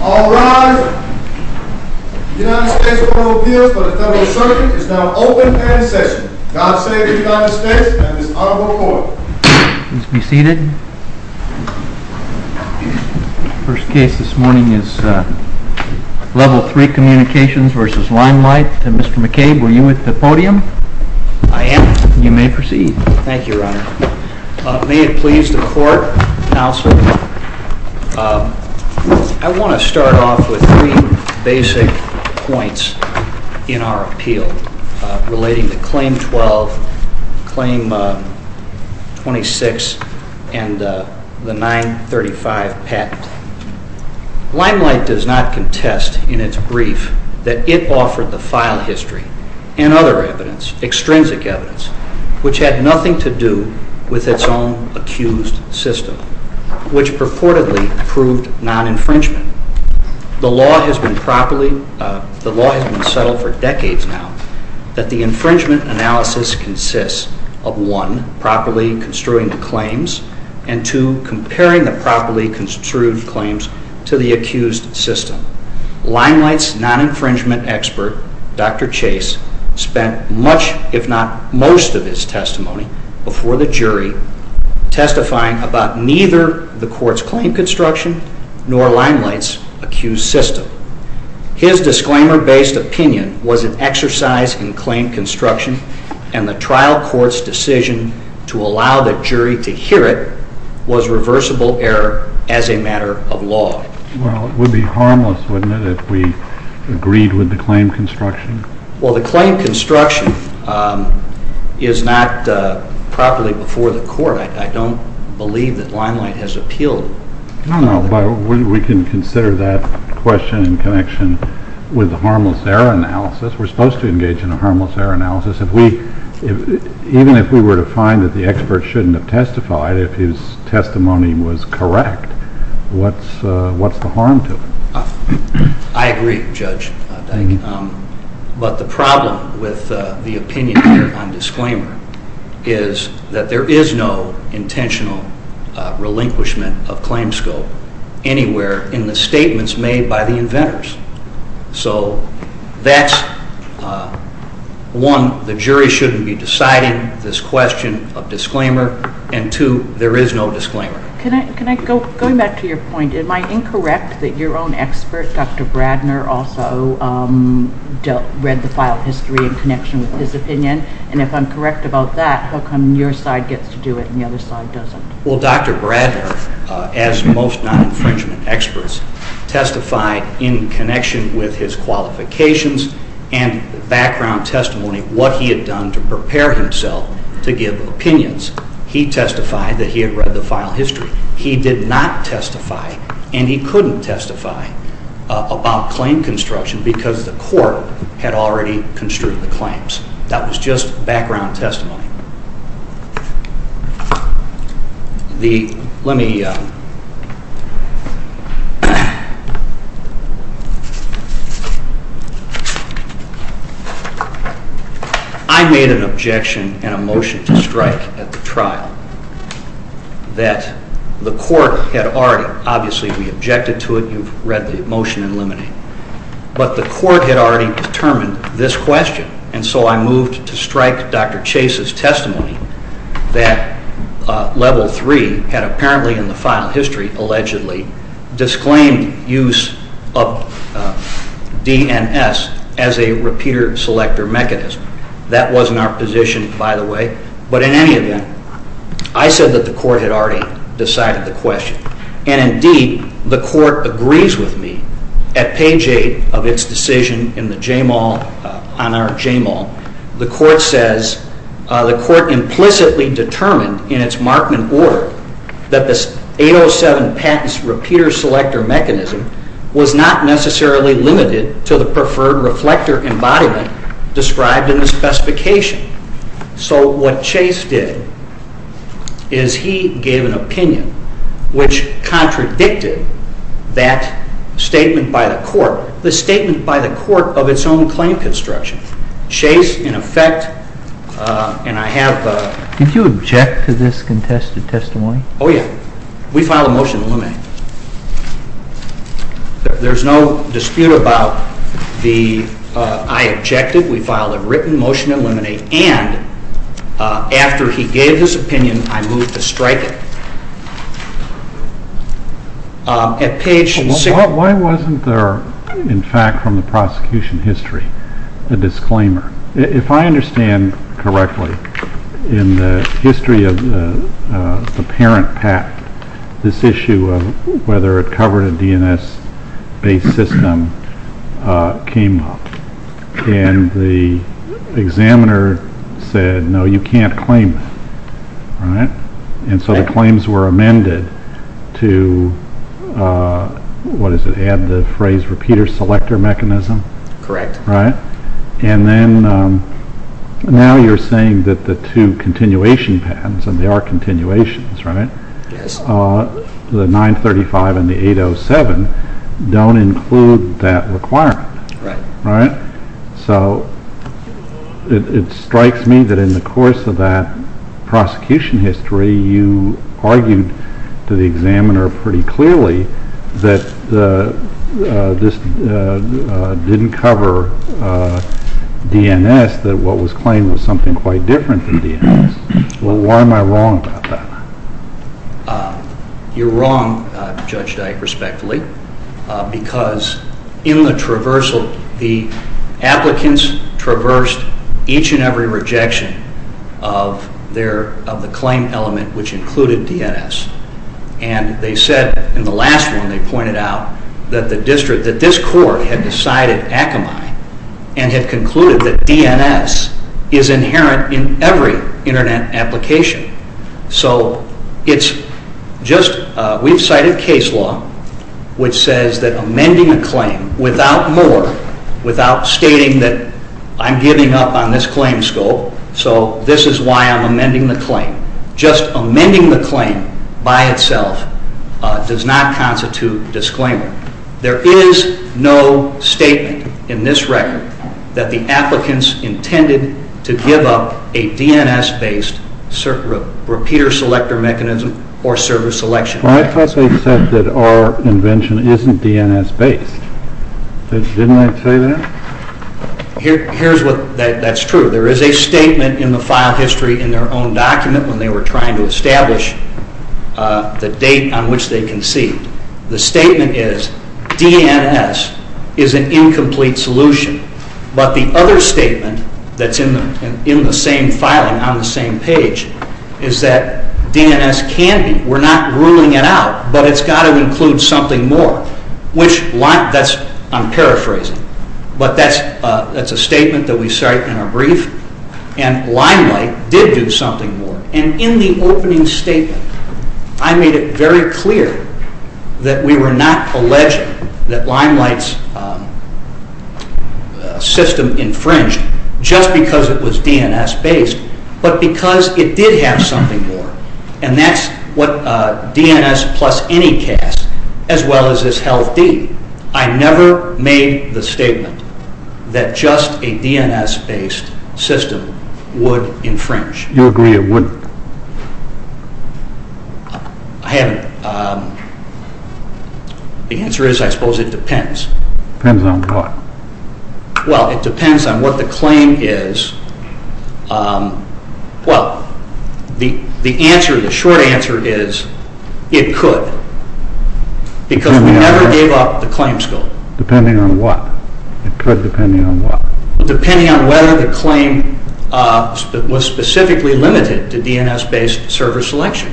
All rise. The United States Court of Appeals for the Federal Circuit is now open and in session. God save the United States and Ms. Audubon Coyle. Please be seated. The first case this morning is Level 3 Communications v. Limelight. Mr. McCabe, were you with the podium? I am. You may proceed. Thank you, Your Honor. May it please the court, counsel, I want to start off with three basic points in our appeal relating to Claim 12, Claim 26, and the 935 patent. Limelight does not contest in its brief that it offered the file history and other evidence, extrinsic evidence, which had nothing to do with its own accused system, which purportedly proved non-infringement. The law has been settled for decades now that the infringement analysis consists of, one, properly construing the claims, and two, comparing the properly construed claims to the accused system. Limelight's non-infringement expert, Dr. Chase, spent much, if not most, of his testimony before the jury testifying about neither the court's claim construction nor Limelight's accused system. His disclaimer-based opinion was an exercise in claim construction, and the trial court's decision to allow the jury to hear it was reversible error as a matter of law. Well, it would be harmless, wouldn't it, if we agreed with the claim construction? Well, the claim construction is not properly before the court. I don't believe that Limelight has appealed. No, no, but we can consider that question in connection with the harmless error analysis. We're supposed to engage in a harmless error analysis. Even if we were to find that the expert shouldn't have testified, if his testimony was correct, what's the harm to it? I agree, Judge. But the problem with the opinion here on disclaimer is that there is no intentional relinquishment of claim scope anywhere in the statements made by the inventors. So that's, one, the jury shouldn't be deciding this question of disclaimer, and two, there is no disclaimer. Going back to your point, am I incorrect that your own expert, Dr. Bradner, also read the file history in connection with his opinion? And if I'm correct about that, how come your side gets to do it and the other side doesn't? Well, Dr. Bradner, as most non-infringement experts, testified in connection with his qualifications and background testimony what he had done to prepare himself to give opinions. He testified that he had read the file history. He did not testify, and he couldn't testify, about claim construction because the court had already construed the claims. That was just background testimony. I made an objection and a motion to strike at the trial that the court had already, obviously, we objected to it. You've read the motion and eliminated it. But the court had already determined this question. And so I moved to strike Dr. Chase's testimony that Level 3 had apparently in the file history, allegedly, disclaimed use of DNS as a repeater-selector mechanism. That wasn't our position, by the way. But in any event, I said that the court had already decided the question. And indeed, the court agrees with me. At page 8 of its decision on our JMAL, the court says, the court implicitly determined in its Markman order that this 807 patents repeater-selector mechanism was not necessarily limited to the preferred reflector embodiment described in the specification. So what Chase did is he gave an opinion which contradicted that statement by the court, the statement by the court of its own claim construction. Chase, in effect, and I have... Did you object to this contested testimony? Oh, yeah. We filed a motion to eliminate. There's no dispute about the I objected. We filed a written motion to eliminate. And after he gave his opinion, I moved to strike it. At page 6... Why wasn't there, in fact, from the prosecution history, a disclaimer? If I understand correctly, in the history of the parent patent, this issue of whether it covered a DNS-based system came up. And the examiner said, no, you can't claim it. And so the claims were amended to, what is it, add the phrase repeater-selector mechanism? Correct. And now you're saying that the two continuation patents, and they are continuations, the 935 and the 807, don't include that requirement. Right. You're wrong, Judge Dyke, respectfully, because in the traversal, the applicants traversed each and every rejection of the claim element which included DNS. And they said in the last one, they pointed out that the district, that this court had decided Akamai and had concluded that DNS is inherent in every Internet application. So it's just, we've cited case law which says that amending a claim without more, without stating that I'm giving up on this claim scope, so this is why I'm amending the claim. Just amending the claim by itself does not constitute disclaimer. There is no statement in this record that the applicants intended to give up a DNS-based repeater-selector mechanism or server selection. Well, I thought they said that our invention isn't DNS-based. Didn't they say that? Here's what, that's true. There is a statement in the file history in their own document when they were trying to establish the date on which they conceived. The statement is DNS is an incomplete solution. But the other statement that's in the same filing on the same page is that DNS can be. We're not ruling it out, but it's got to include something more. I'm paraphrasing, but that's a statement that we cite in our brief. And Limelight did do something more. And in the opening statement, I made it very clear that we were not alleging that Limelight's system infringed just because it was DNS-based, but because it did have something more. And that's what DNS plus any CAS, as well as this health deed, I never made the statement that just a DNS-based system would infringe. You agree it wouldn't? I haven't. The answer is I suppose it depends. Depends on what? Well, it depends on what the claim is. Well, the short answer is it could. Because we never gave up the claims goal. Depending on what? It could depend on what? Depending on whether the claim was specifically limited to DNS-based server selection.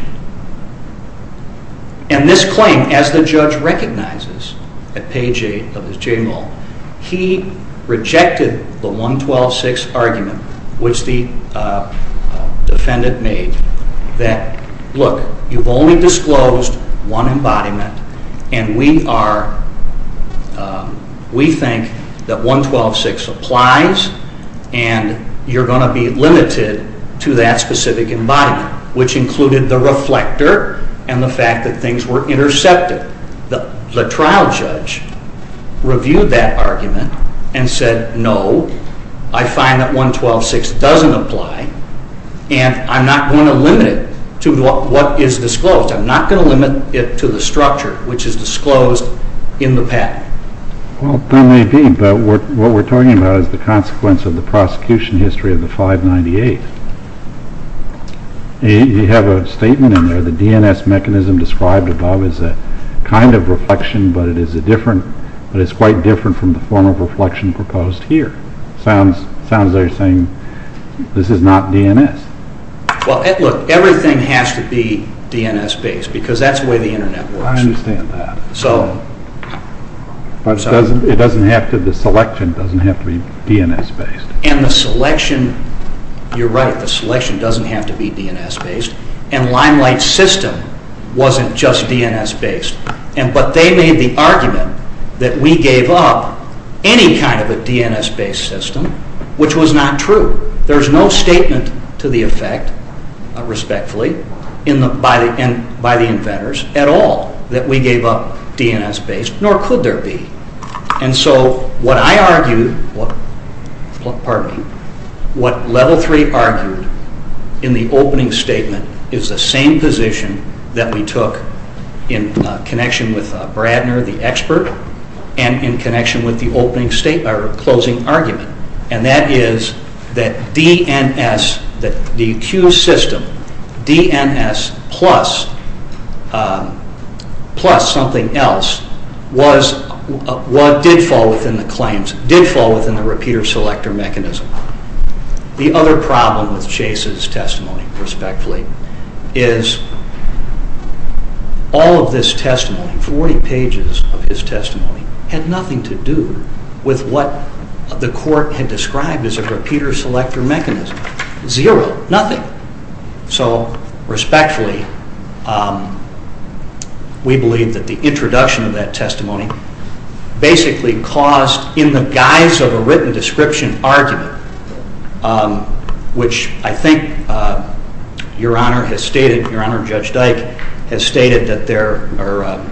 And this claim, as the judge recognizes at page 8 of his JML, he rejected the 112.6 argument, which the defendant made, that, look, you've only disclosed one embodiment and we think that 112.6 applies and you're going to be limited to that specific embodiment, which included the reflector and the fact that things were intercepted. The trial judge reviewed that argument and said, no, I find that 112.6 doesn't apply and I'm not going to limit it to what is disclosed. I'm not going to limit it to the structure, which is disclosed in the patent. Well, there may be, but what we're talking about is the consequence of the prosecution history of the 598. You have a statement in there, the DNS mechanism described above is a kind of reflection, but it is quite different from the form of reflection proposed here. Sounds like you're saying this is not DNS. Well, look, everything has to be DNS-based because that's the way the Internet works. I understand that. But the selection doesn't have to be DNS-based. And the selection, you're right, the selection doesn't have to be DNS-based and Limelight's system wasn't just DNS-based, but they made the argument that we gave up any kind of a DNS-based system, which was not true. There's no statement to the effect, respectfully, by the inventors at all that we gave up DNS-based, nor could there be. And so what I argued, pardon me, what Level 3 argued in the opening statement is the same position that we took in connection with Bradner, the expert, and in connection with the opening statement, or closing argument, and that is that DNS, that the Q system, DNS plus something else, did fall within the claims, did fall within the repeater-selector mechanism. The other problem with Chase's testimony, respectfully, is all of this testimony, 40 pages of his testimony, had nothing to do with what the court had described as a repeater-selector mechanism. Zero. Nothing. So, respectfully, we believe that the introduction of that testimony basically caused, in the guise of a written description argument, which I think Your Honor has stated, Your Honor Judge Dyke has stated that there, or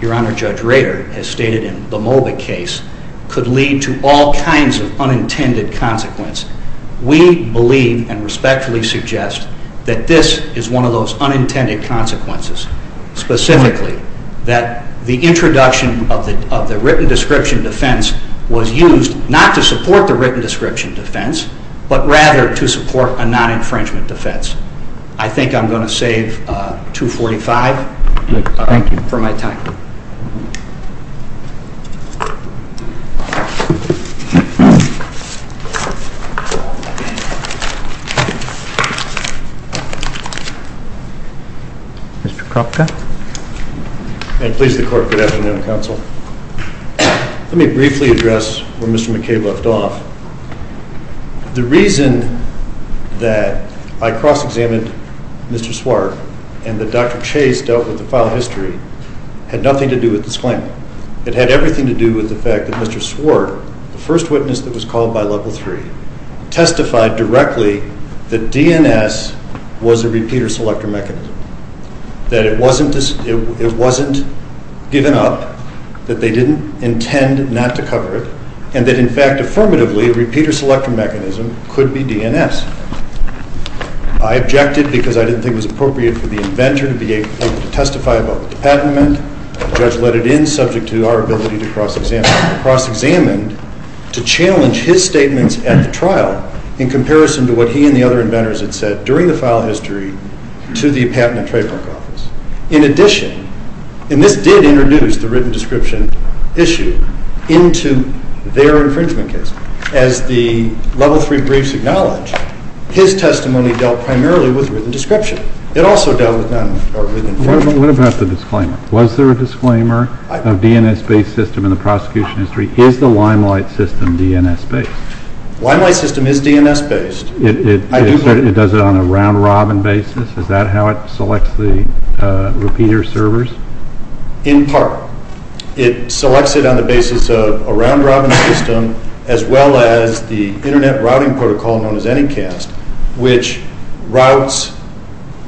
Your Honor Judge Rader has stated in the Moba case, could lead to all kinds of unintended consequences. We believe, and respectfully suggest, that this is one of those unintended consequences. Specifically, that the introduction of the written description defense was used not to support the written description defense, but rather to support a non-infringement defense. I think I'm going to save 245 for my time. Thank you. Mr. Kropka? May it please the Court, good afternoon, Counsel. Let me briefly address where Mr. McKay left off. The reason that I cross-examined Mr. Swart and that Dr. Chase dealt with the file history had nothing to do with this claim. It had everything to do with the fact that Mr. Swart, the first witness that was called by Level 3, testified directly that DNS was a repeater-selector mechanism, that it wasn't given up, that they didn't intend not to cover it, and that, in fact, affirmatively, a repeater-selector mechanism could be DNS. I objected because I didn't think it was appropriate for the inventor to be able to testify about the patentment. The judge let it in, subject to our ability to cross-examine, to challenge his statements at the trial in comparison to what he and the other inventors had said during the file history to the Patent and Trademark Office. In addition, and this did introduce the written description issue into their infringement case, as the Level 3 briefs acknowledge, his testimony dealt primarily with written description. It also dealt with non-infringement. What about the disclaimer? Was there a disclaimer of DNS-based system in the prosecution history? Is the Limelight system DNS-based? Limelight system is DNS-based. It does it on a round-robin basis? Is that how it selects the repeater servers? In part. It selects it on the basis of a round-robin system, as well as the Internet Routing Protocol, known as Anycast, which routes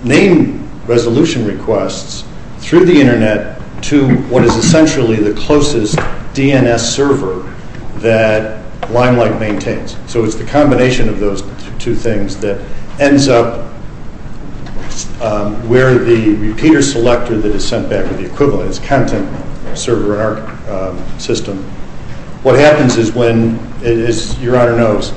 name resolution requests through the Internet to what is essentially the closest DNS server that Limelight maintains. So it's the combination of those two things that ends up where the repeater selector that is sent back with the equivalent, server in our system. What happens is when, as Your Honor knows,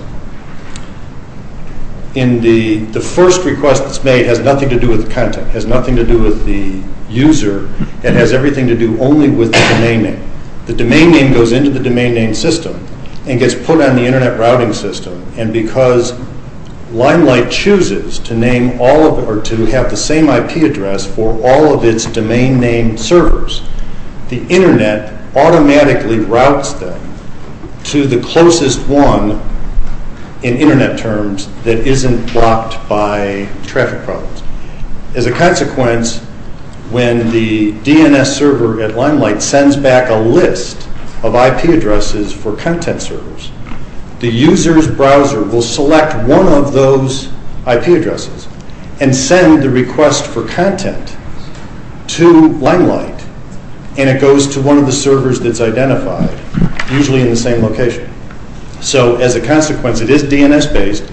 the first request that's made has nothing to do with the content, has nothing to do with the user. It has everything to do only with the domain name. The domain name goes into the domain name system and gets put on the Internet routing system, and because Limelight chooses to have the same IP address for all of its domain name servers, the Internet automatically routes them to the closest one, in Internet terms, that isn't blocked by traffic problems. As a consequence, when the DNS server at Limelight sends back a list of IP addresses for content servers, the user's browser will select one of those IP addresses and send the request for content to Limelight, and it goes to one of the servers that's identified, usually in the same location. So as a consequence, it is DNS-based,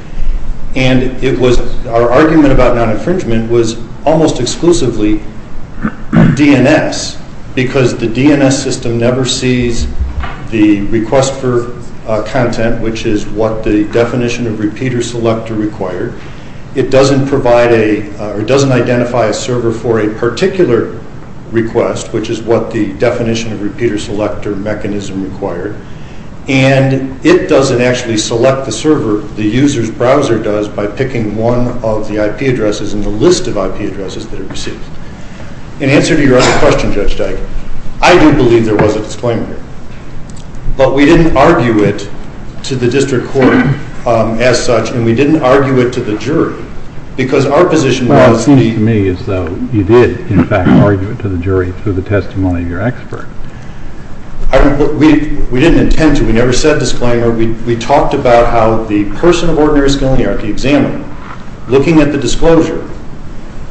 and our argument about non-infringement was almost exclusively DNS, because the DNS system never sees the request for content, which is what the definition of repeater selector required. It doesn't identify a server for a particular request, which is what the definition of repeater selector mechanism required, and it doesn't actually select the server. The user's browser does by picking one of the IP addresses in the list of IP addresses that it receives. In answer to your other question, Judge Dike, I do believe there was a disclaimer, but we didn't argue it to the district court as such, and we didn't argue it to the jury, because our position was... Well, it seems to me as though you did, in fact, argue it to the jury through the testimony of your expert. We didn't intend to. We never said disclaimer. We talked about how the person of ordinary skill in the archaeo-examiner, looking at the disclosure,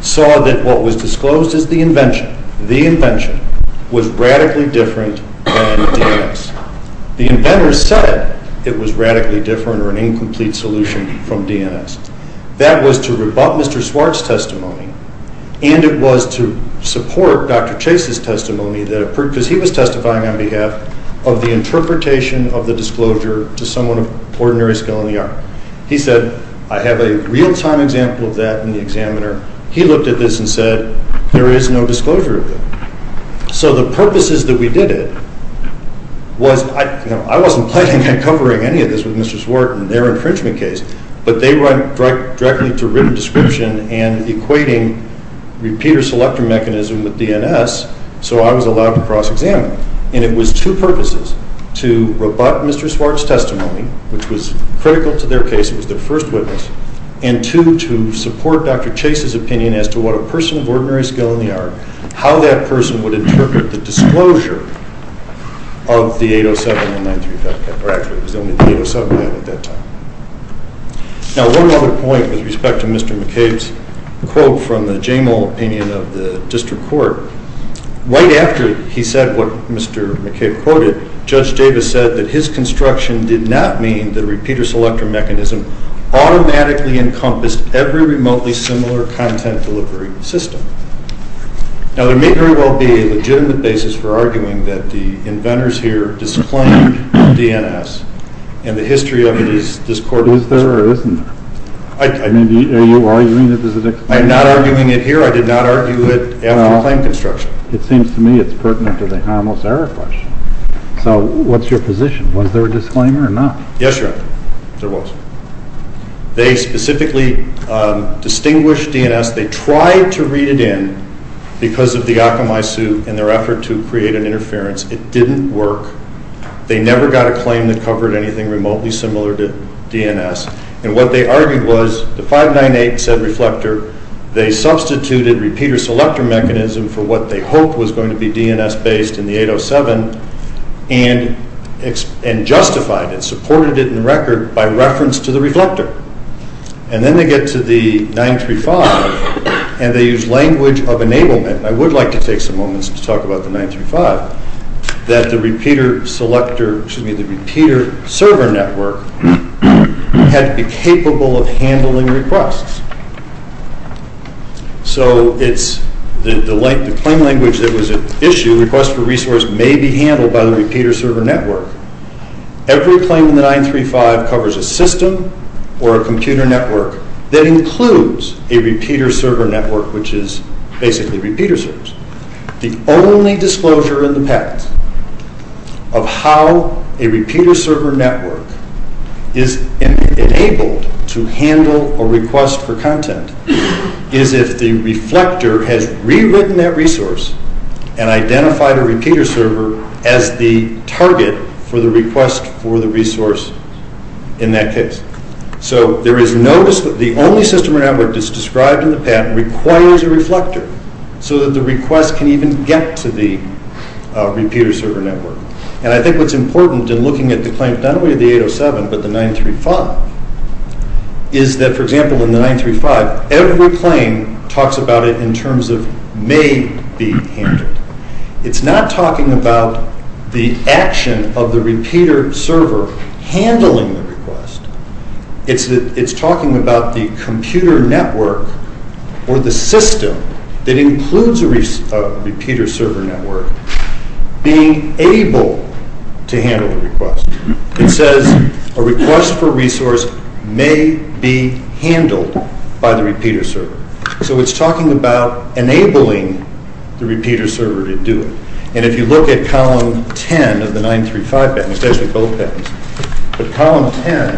saw that what was disclosed as the invention, the invention, was radically different than DNS. The inventor said it was radically different or an incomplete solution from DNS. That was to rebut Mr. Swartz's testimony, and it was to support Dr. Chase's testimony, because he was testifying on behalf of the interpretation of the disclosure to someone of ordinary skill in the arch. He said, I have a real-time example of that in the examiner. He looked at this and said, there is no disclosure of it. So the purposes that we did it was... I wasn't planning on covering any of this with Mr. Swartz and their infringement case, but they went directly to written description and equating repeater-selector mechanism with DNS, so I was allowed to cross-examine. And it was two purposes, to rebut Mr. Swartz's testimony, which was critical to their case. It was their first witness. And two, to support Dr. Chase's opinion as to what a person of ordinary skill in the arch, how that person would interpret the disclosure of the 807 and 935, or actually it was only the 807 at that time. Now, one other point with respect to Mr. McCabe's quote from the Jamal opinion of the district court. Right after he said what Mr. McCabe quoted, Judge Davis said that his construction did not mean that a repeater-selector mechanism automatically encompassed every remotely similar content delivery system. Now, there may very well be a legitimate basis for arguing that the inventors here disciplined DNS, and the history of it is discordant. Is there or isn't there? Are you arguing that there's a disclaimer? I'm not arguing it here. I did not argue it after the claim construction. Well, it seems to me it's pertinent to the harmless error question. So what's your position? Was there a disclaimer or not? Yes, Your Honor, there was. They specifically distinguished DNS. They tried to read it in because of the Akamai suit and their effort to create an interference. It didn't work. They never got a claim that covered anything remotely similar to DNS. And what they argued was the 598 said reflector. They substituted repeater-selector mechanism for what they hoped was going to be DNS-based in the 807 and justified it, supported it in the record by reference to the reflector. And then they get to the 935, and they use language of enablement. And I would like to take some moments to talk about the 935, that the repeater-selector, excuse me, the repeater-server network had to be capable of handling requests. So it's the claim language that was at issue, request for resource may be handled by the repeater-server network. Every claim in the 935 covers a system or a computer network that includes a repeater-server network, which is basically repeater servers. The only disclosure in the patent of how a repeater-server network is enabled to handle a request for content is if the reflector has rewritten that resource and identified a repeater server as the target for the request for the resource in that case. So there is notice that the only system or network that's described in the patent requires a reflector so that the request can even get to the repeater-server network. And I think what's important in looking at the claims, not only of the 807, but the 935, is that, for example, in the 935, every claim talks about it in terms of may be handled. It's not talking about the action of the repeater server handling the request. It's talking about the computer network or the system that includes a repeater-server network being able to handle the request. It says a request for resource may be handled by the repeater server. So it's talking about enabling the repeater server to do it. And if you look at column 10 of the 935 patent, especially both patents, but column 10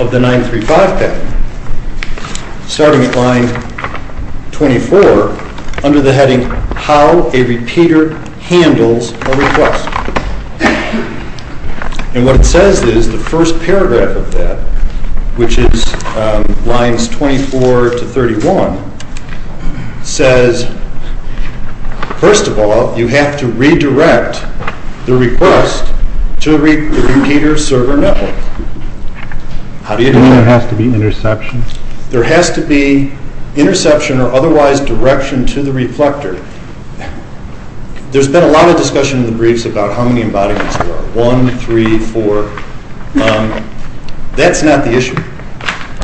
of the 935 patent, starting at line 24, under the heading, How a Repeater Handles a Request. And what it says is, the first paragraph of that, which is lines 24 to 31, says, first of all, you have to redirect the request to the repeater-server network. How do you do that? There has to be interception. There has to be interception or otherwise direction to the reflector. There's been a lot of discussion in the briefs about how many embodiments there are. One, three, four. That's not the issue.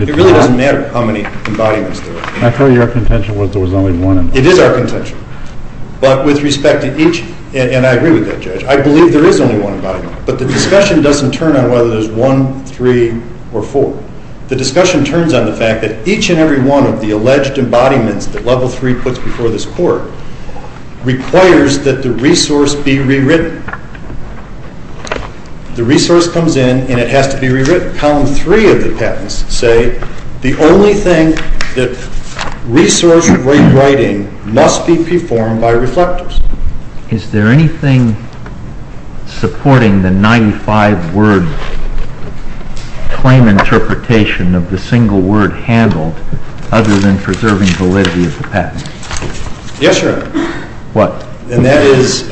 It really doesn't matter how many embodiments there are. I thought your contention was there was only one embodiment. It is our contention. But with respect to each, and I agree with that, Judge, I believe there is only one embodiment. But the discussion doesn't turn on whether there's one, three, or four. The discussion turns on the fact that each and every one of the alleged embodiments that Level 3 puts before this Court requires that the resource be rewritten. The resource comes in and it has to be rewritten. Column 3 of the patents say the only thing that resource rewriting must be performed by reflectors. Is there anything supporting the 95-word claim interpretation of the single word handled, other than preserving validity of the patent? Yes, Your Honor. What? And that is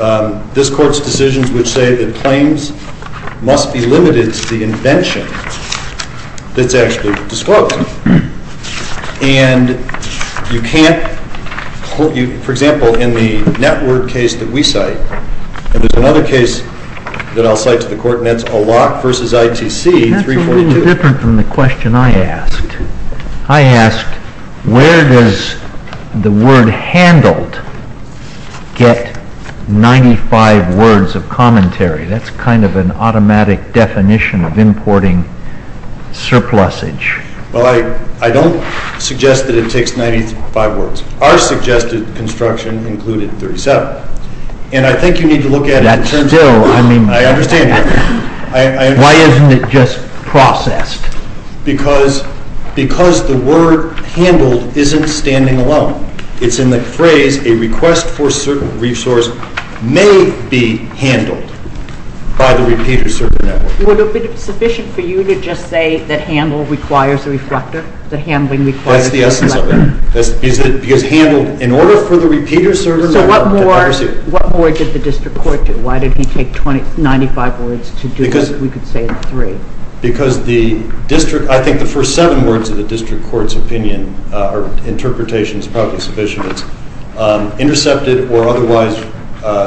this Court's decisions which say that claims must be limited to the invention that's actually disclosed. And you can't, for example, in the net word case that we cite, and there's another case that I'll cite to the Court, and that's Alloc v. ITC 342. That's a little different from the question I asked. I asked, where does the word handled get 95 words of commentary? That's kind of an automatic definition of importing surplusage. Well, I don't suggest that it takes 95 words. Our suggested construction included 37. And I think you need to look at it. That's still, I mean. I understand that. Why isn't it just processed? Because the word handled isn't standing alone. It's in the phrase, a request for a certain resource may be handled by the repeater server network. Would it be sufficient for you to just say that handle requires a reflector, that handling requires a reflector? That's the essence of it. Because handled, in order for the repeater server network to proceed. So what more did the district court do? Why did he take 95 words to do what we could say in three? Because the district, I think the first seven words of the district court's opinion or interpretation is probably sufficient. It's intercepted or otherwise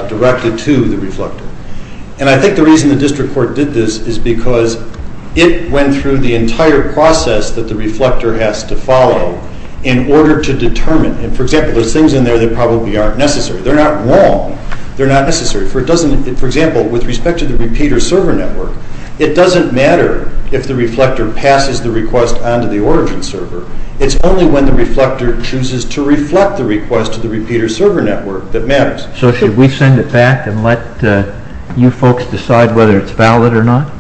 directed to the reflector. And I think the reason the district court did this is because it went through the entire process that the reflector has to follow in order to determine. And, for example, there's things in there that probably aren't necessary. They're not wrong. They're not necessary. For example, with respect to the repeater server network, it doesn't matter if the reflector passes the request onto the origin server. It's only when the reflector chooses to reflect the request to the repeater server network that matters. So should we send it back and let you folks decide whether it's valid or not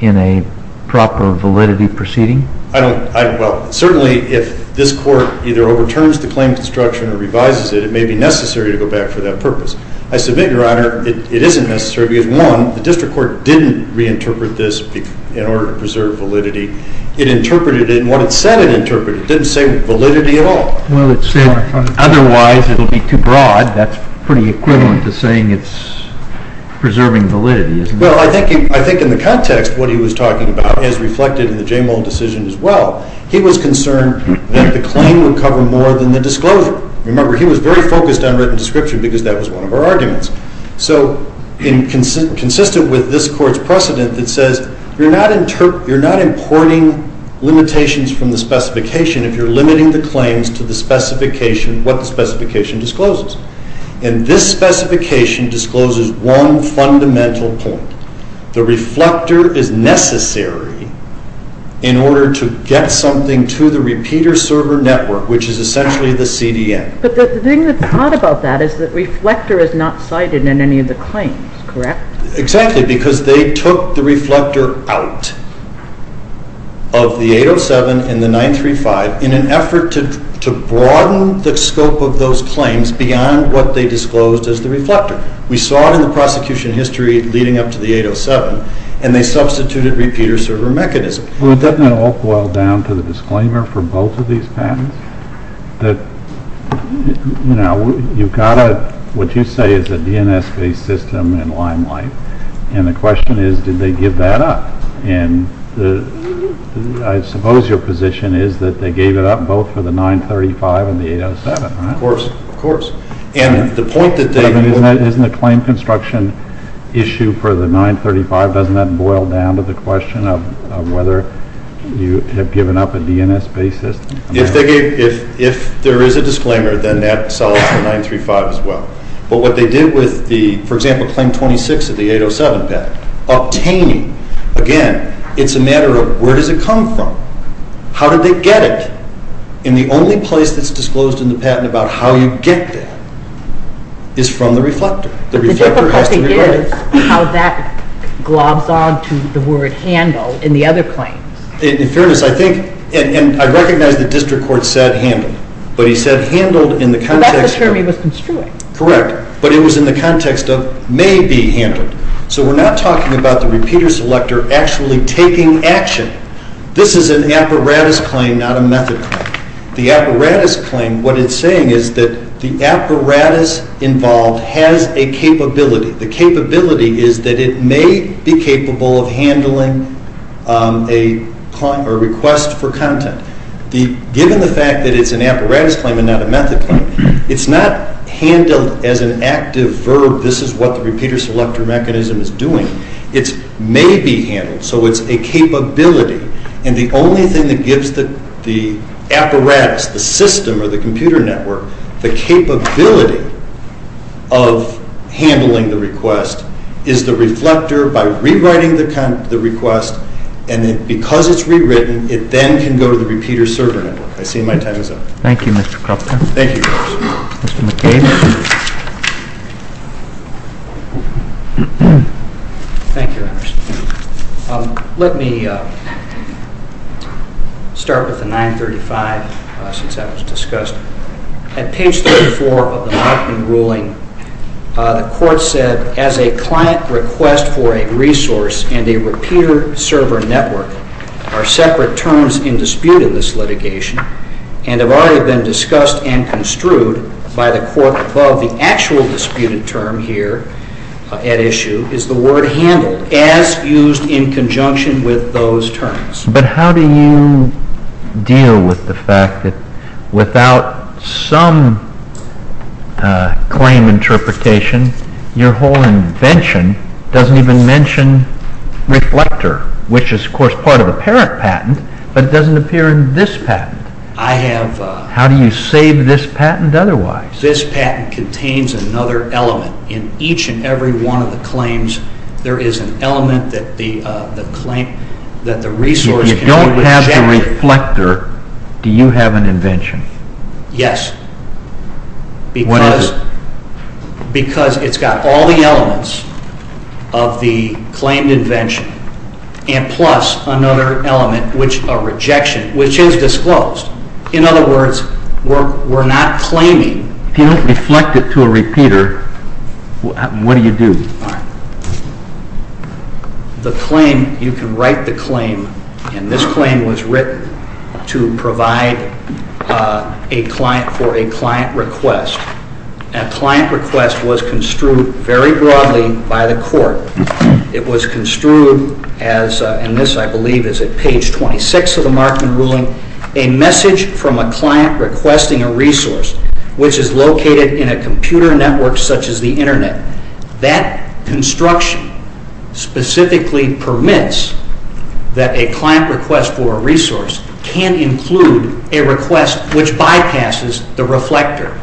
in a proper validity proceeding? Well, certainly if this court either overturns the claim construction or revises it, it may be necessary to go back for that purpose. I submit, Your Honor, it isn't necessary because, one, the district court didn't reinterpret this in order to preserve validity. It interpreted it in what it said it interpreted. It didn't say validity at all. Well, it said otherwise it will be too broad. That's pretty equivalent to saying it's preserving validity, isn't it? Well, I think in the context what he was talking about is reflected in the Jamal decision as well. He was concerned that the claim would cover more than the disclosure. Remember, he was very focused on written description because that was one of our arguments. So consistent with this court's precedent, it says you're not importing limitations from the specification if you're limiting the claims to what the specification discloses. And this specification discloses one fundamental point. The reflector is necessary in order to get something to the repeater server network, which is essentially the CDN. But the thing that's odd about that is that reflector is not cited in any of the claims, correct? Exactly, because they took the reflector out of the 807 and the 935 in an effort to broaden the scope of those claims beyond what they disclosed as the reflector. We saw it in the prosecution history leading up to the 807, and they substituted repeater server mechanisms. Well, doesn't it all boil down to the disclaimer for both of these patents that, you know, you've got what you say is a DNS-based system in limelight, and the question is did they give that up? And I suppose your position is that they gave it up both for the 935 and the 807, right? Of course, of course. But isn't the claim construction issue for the 935, doesn't that boil down to the question of whether you have given up a DNS-based system? If there is a disclaimer, then that solves the 935 as well. But what they did with the, for example, Claim 26 of the 807 patent, obtaining, again, it's a matter of where does it come from? How did they get it? And the only place that's disclosed in the patent about how you get that is from the reflector. The reflector has to be right. But the difficulty is how that globs on to the word handle in the other claims. In fairness, I think, and I recognize the district court said handle, but he said handled in the context of— But that's the term he was construing. Correct. But it was in the context of may be handled. So we're not talking about the repeater selector actually taking action. This is an apparatus claim, not a method claim. The apparatus claim, what it's saying is that the apparatus involved has a capability. The capability is that it may be capable of handling a request for content. Given the fact that it's an apparatus claim and not a method claim, it's not handled as an active verb, this is what the repeater selector mechanism is doing. It may be handled, so it's a capability. And the only thing that gives the apparatus, the system or the computer network, the capability of handling the request is the reflector by rewriting the request. And because it's rewritten, it then can go to the repeater server network. I see my time is up. Thank you, Mr. Kropotkin. Thank you. Mr. McCain. Thank you, Your Honor. Let me start with the 935 since that was discussed. At page 34 of the Markman ruling, the Court said, But how do you deal with the fact that without some claim interpretation, your whole invention doesn't even mention reflector, which is, of course, part of a parent patent, but it doesn't appear in this patent? How do you save this patent otherwise? This patent contains another element. In each and every one of the claims, there is an element that the claim, that the resource can be rejected. If you don't have the reflector, do you have an invention? Yes. What is it? Because it's got all the elements of the claimed invention and plus another element, a rejection, which is disclosed. In other words, we're not claiming. If you don't reflect it to a repeater, what do you do? The claim, you can write the claim, and this claim was written to provide a client for a client request. A client request was construed very broadly by the Court. It was construed as, and this, I believe, is at page 26 of the Markman ruling, a message from a client requesting a resource, which is located in a computer network such as the Internet. That construction specifically permits that a client request for a resource can include a request which bypasses the reflector.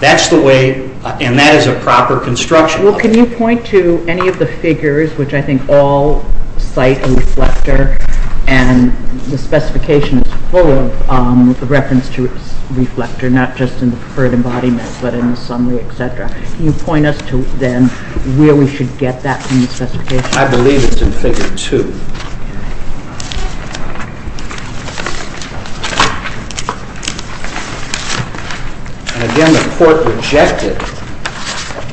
That's the way, and that is a proper construction. Well, can you point to any of the figures, which I think all cite a reflector, and the specification is full of reference to a reflector, not just in the preferred embodiment, but in the summary, etc. Can you point us to, then, where we should get that from the specification? I believe it's in Figure 2. Again, the Court rejected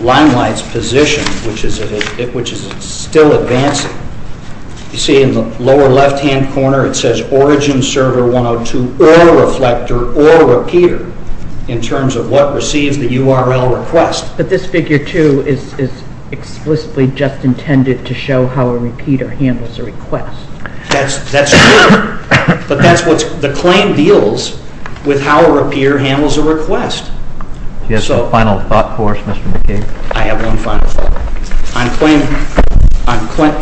Limelight's position, which is still advancing. You see in the lower left-hand corner, it says, or a reflector or a repeater, in terms of what receives the URL request. But this Figure 2 is explicitly just intended to show how a repeater handles a request. That's true, but that's what the claim deals with, how a repeater handles a request. Do you have a final thought for us, Mr. McKeague? I have one final thought.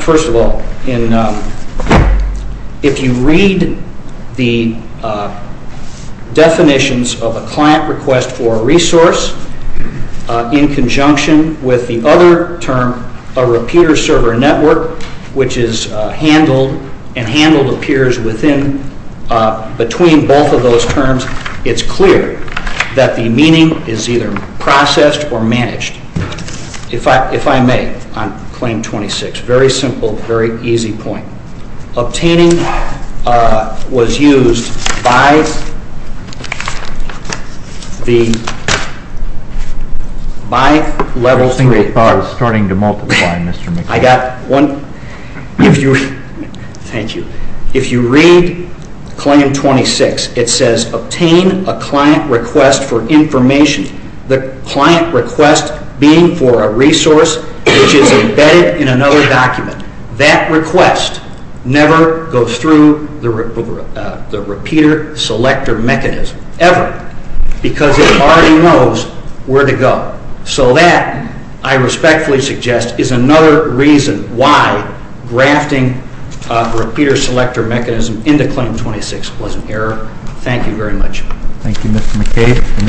First of all, if you read the definitions of a client request for a resource, in conjunction with the other term, a repeater server network, which is handled, and handled appears between both of those terms, it's clear that the meaning is either processed or managed. If I may, on Claim 26, a very simple, very easy point. Obtaining was used by Level 3. Your single thought is starting to multiply, Mr. McKeague. I got one. Thank you. If you read Claim 26, it says, obtain a client request for information. The client request being for a resource which is embedded in another document. That request never goes through the repeater selector mechanism, ever, because it already knows where to go. So that, I respectfully suggest, is another reason why grafting a repeater selector mechanism into Claim 26 was an error. Thank you very much. Thank you, Mr. McKeague.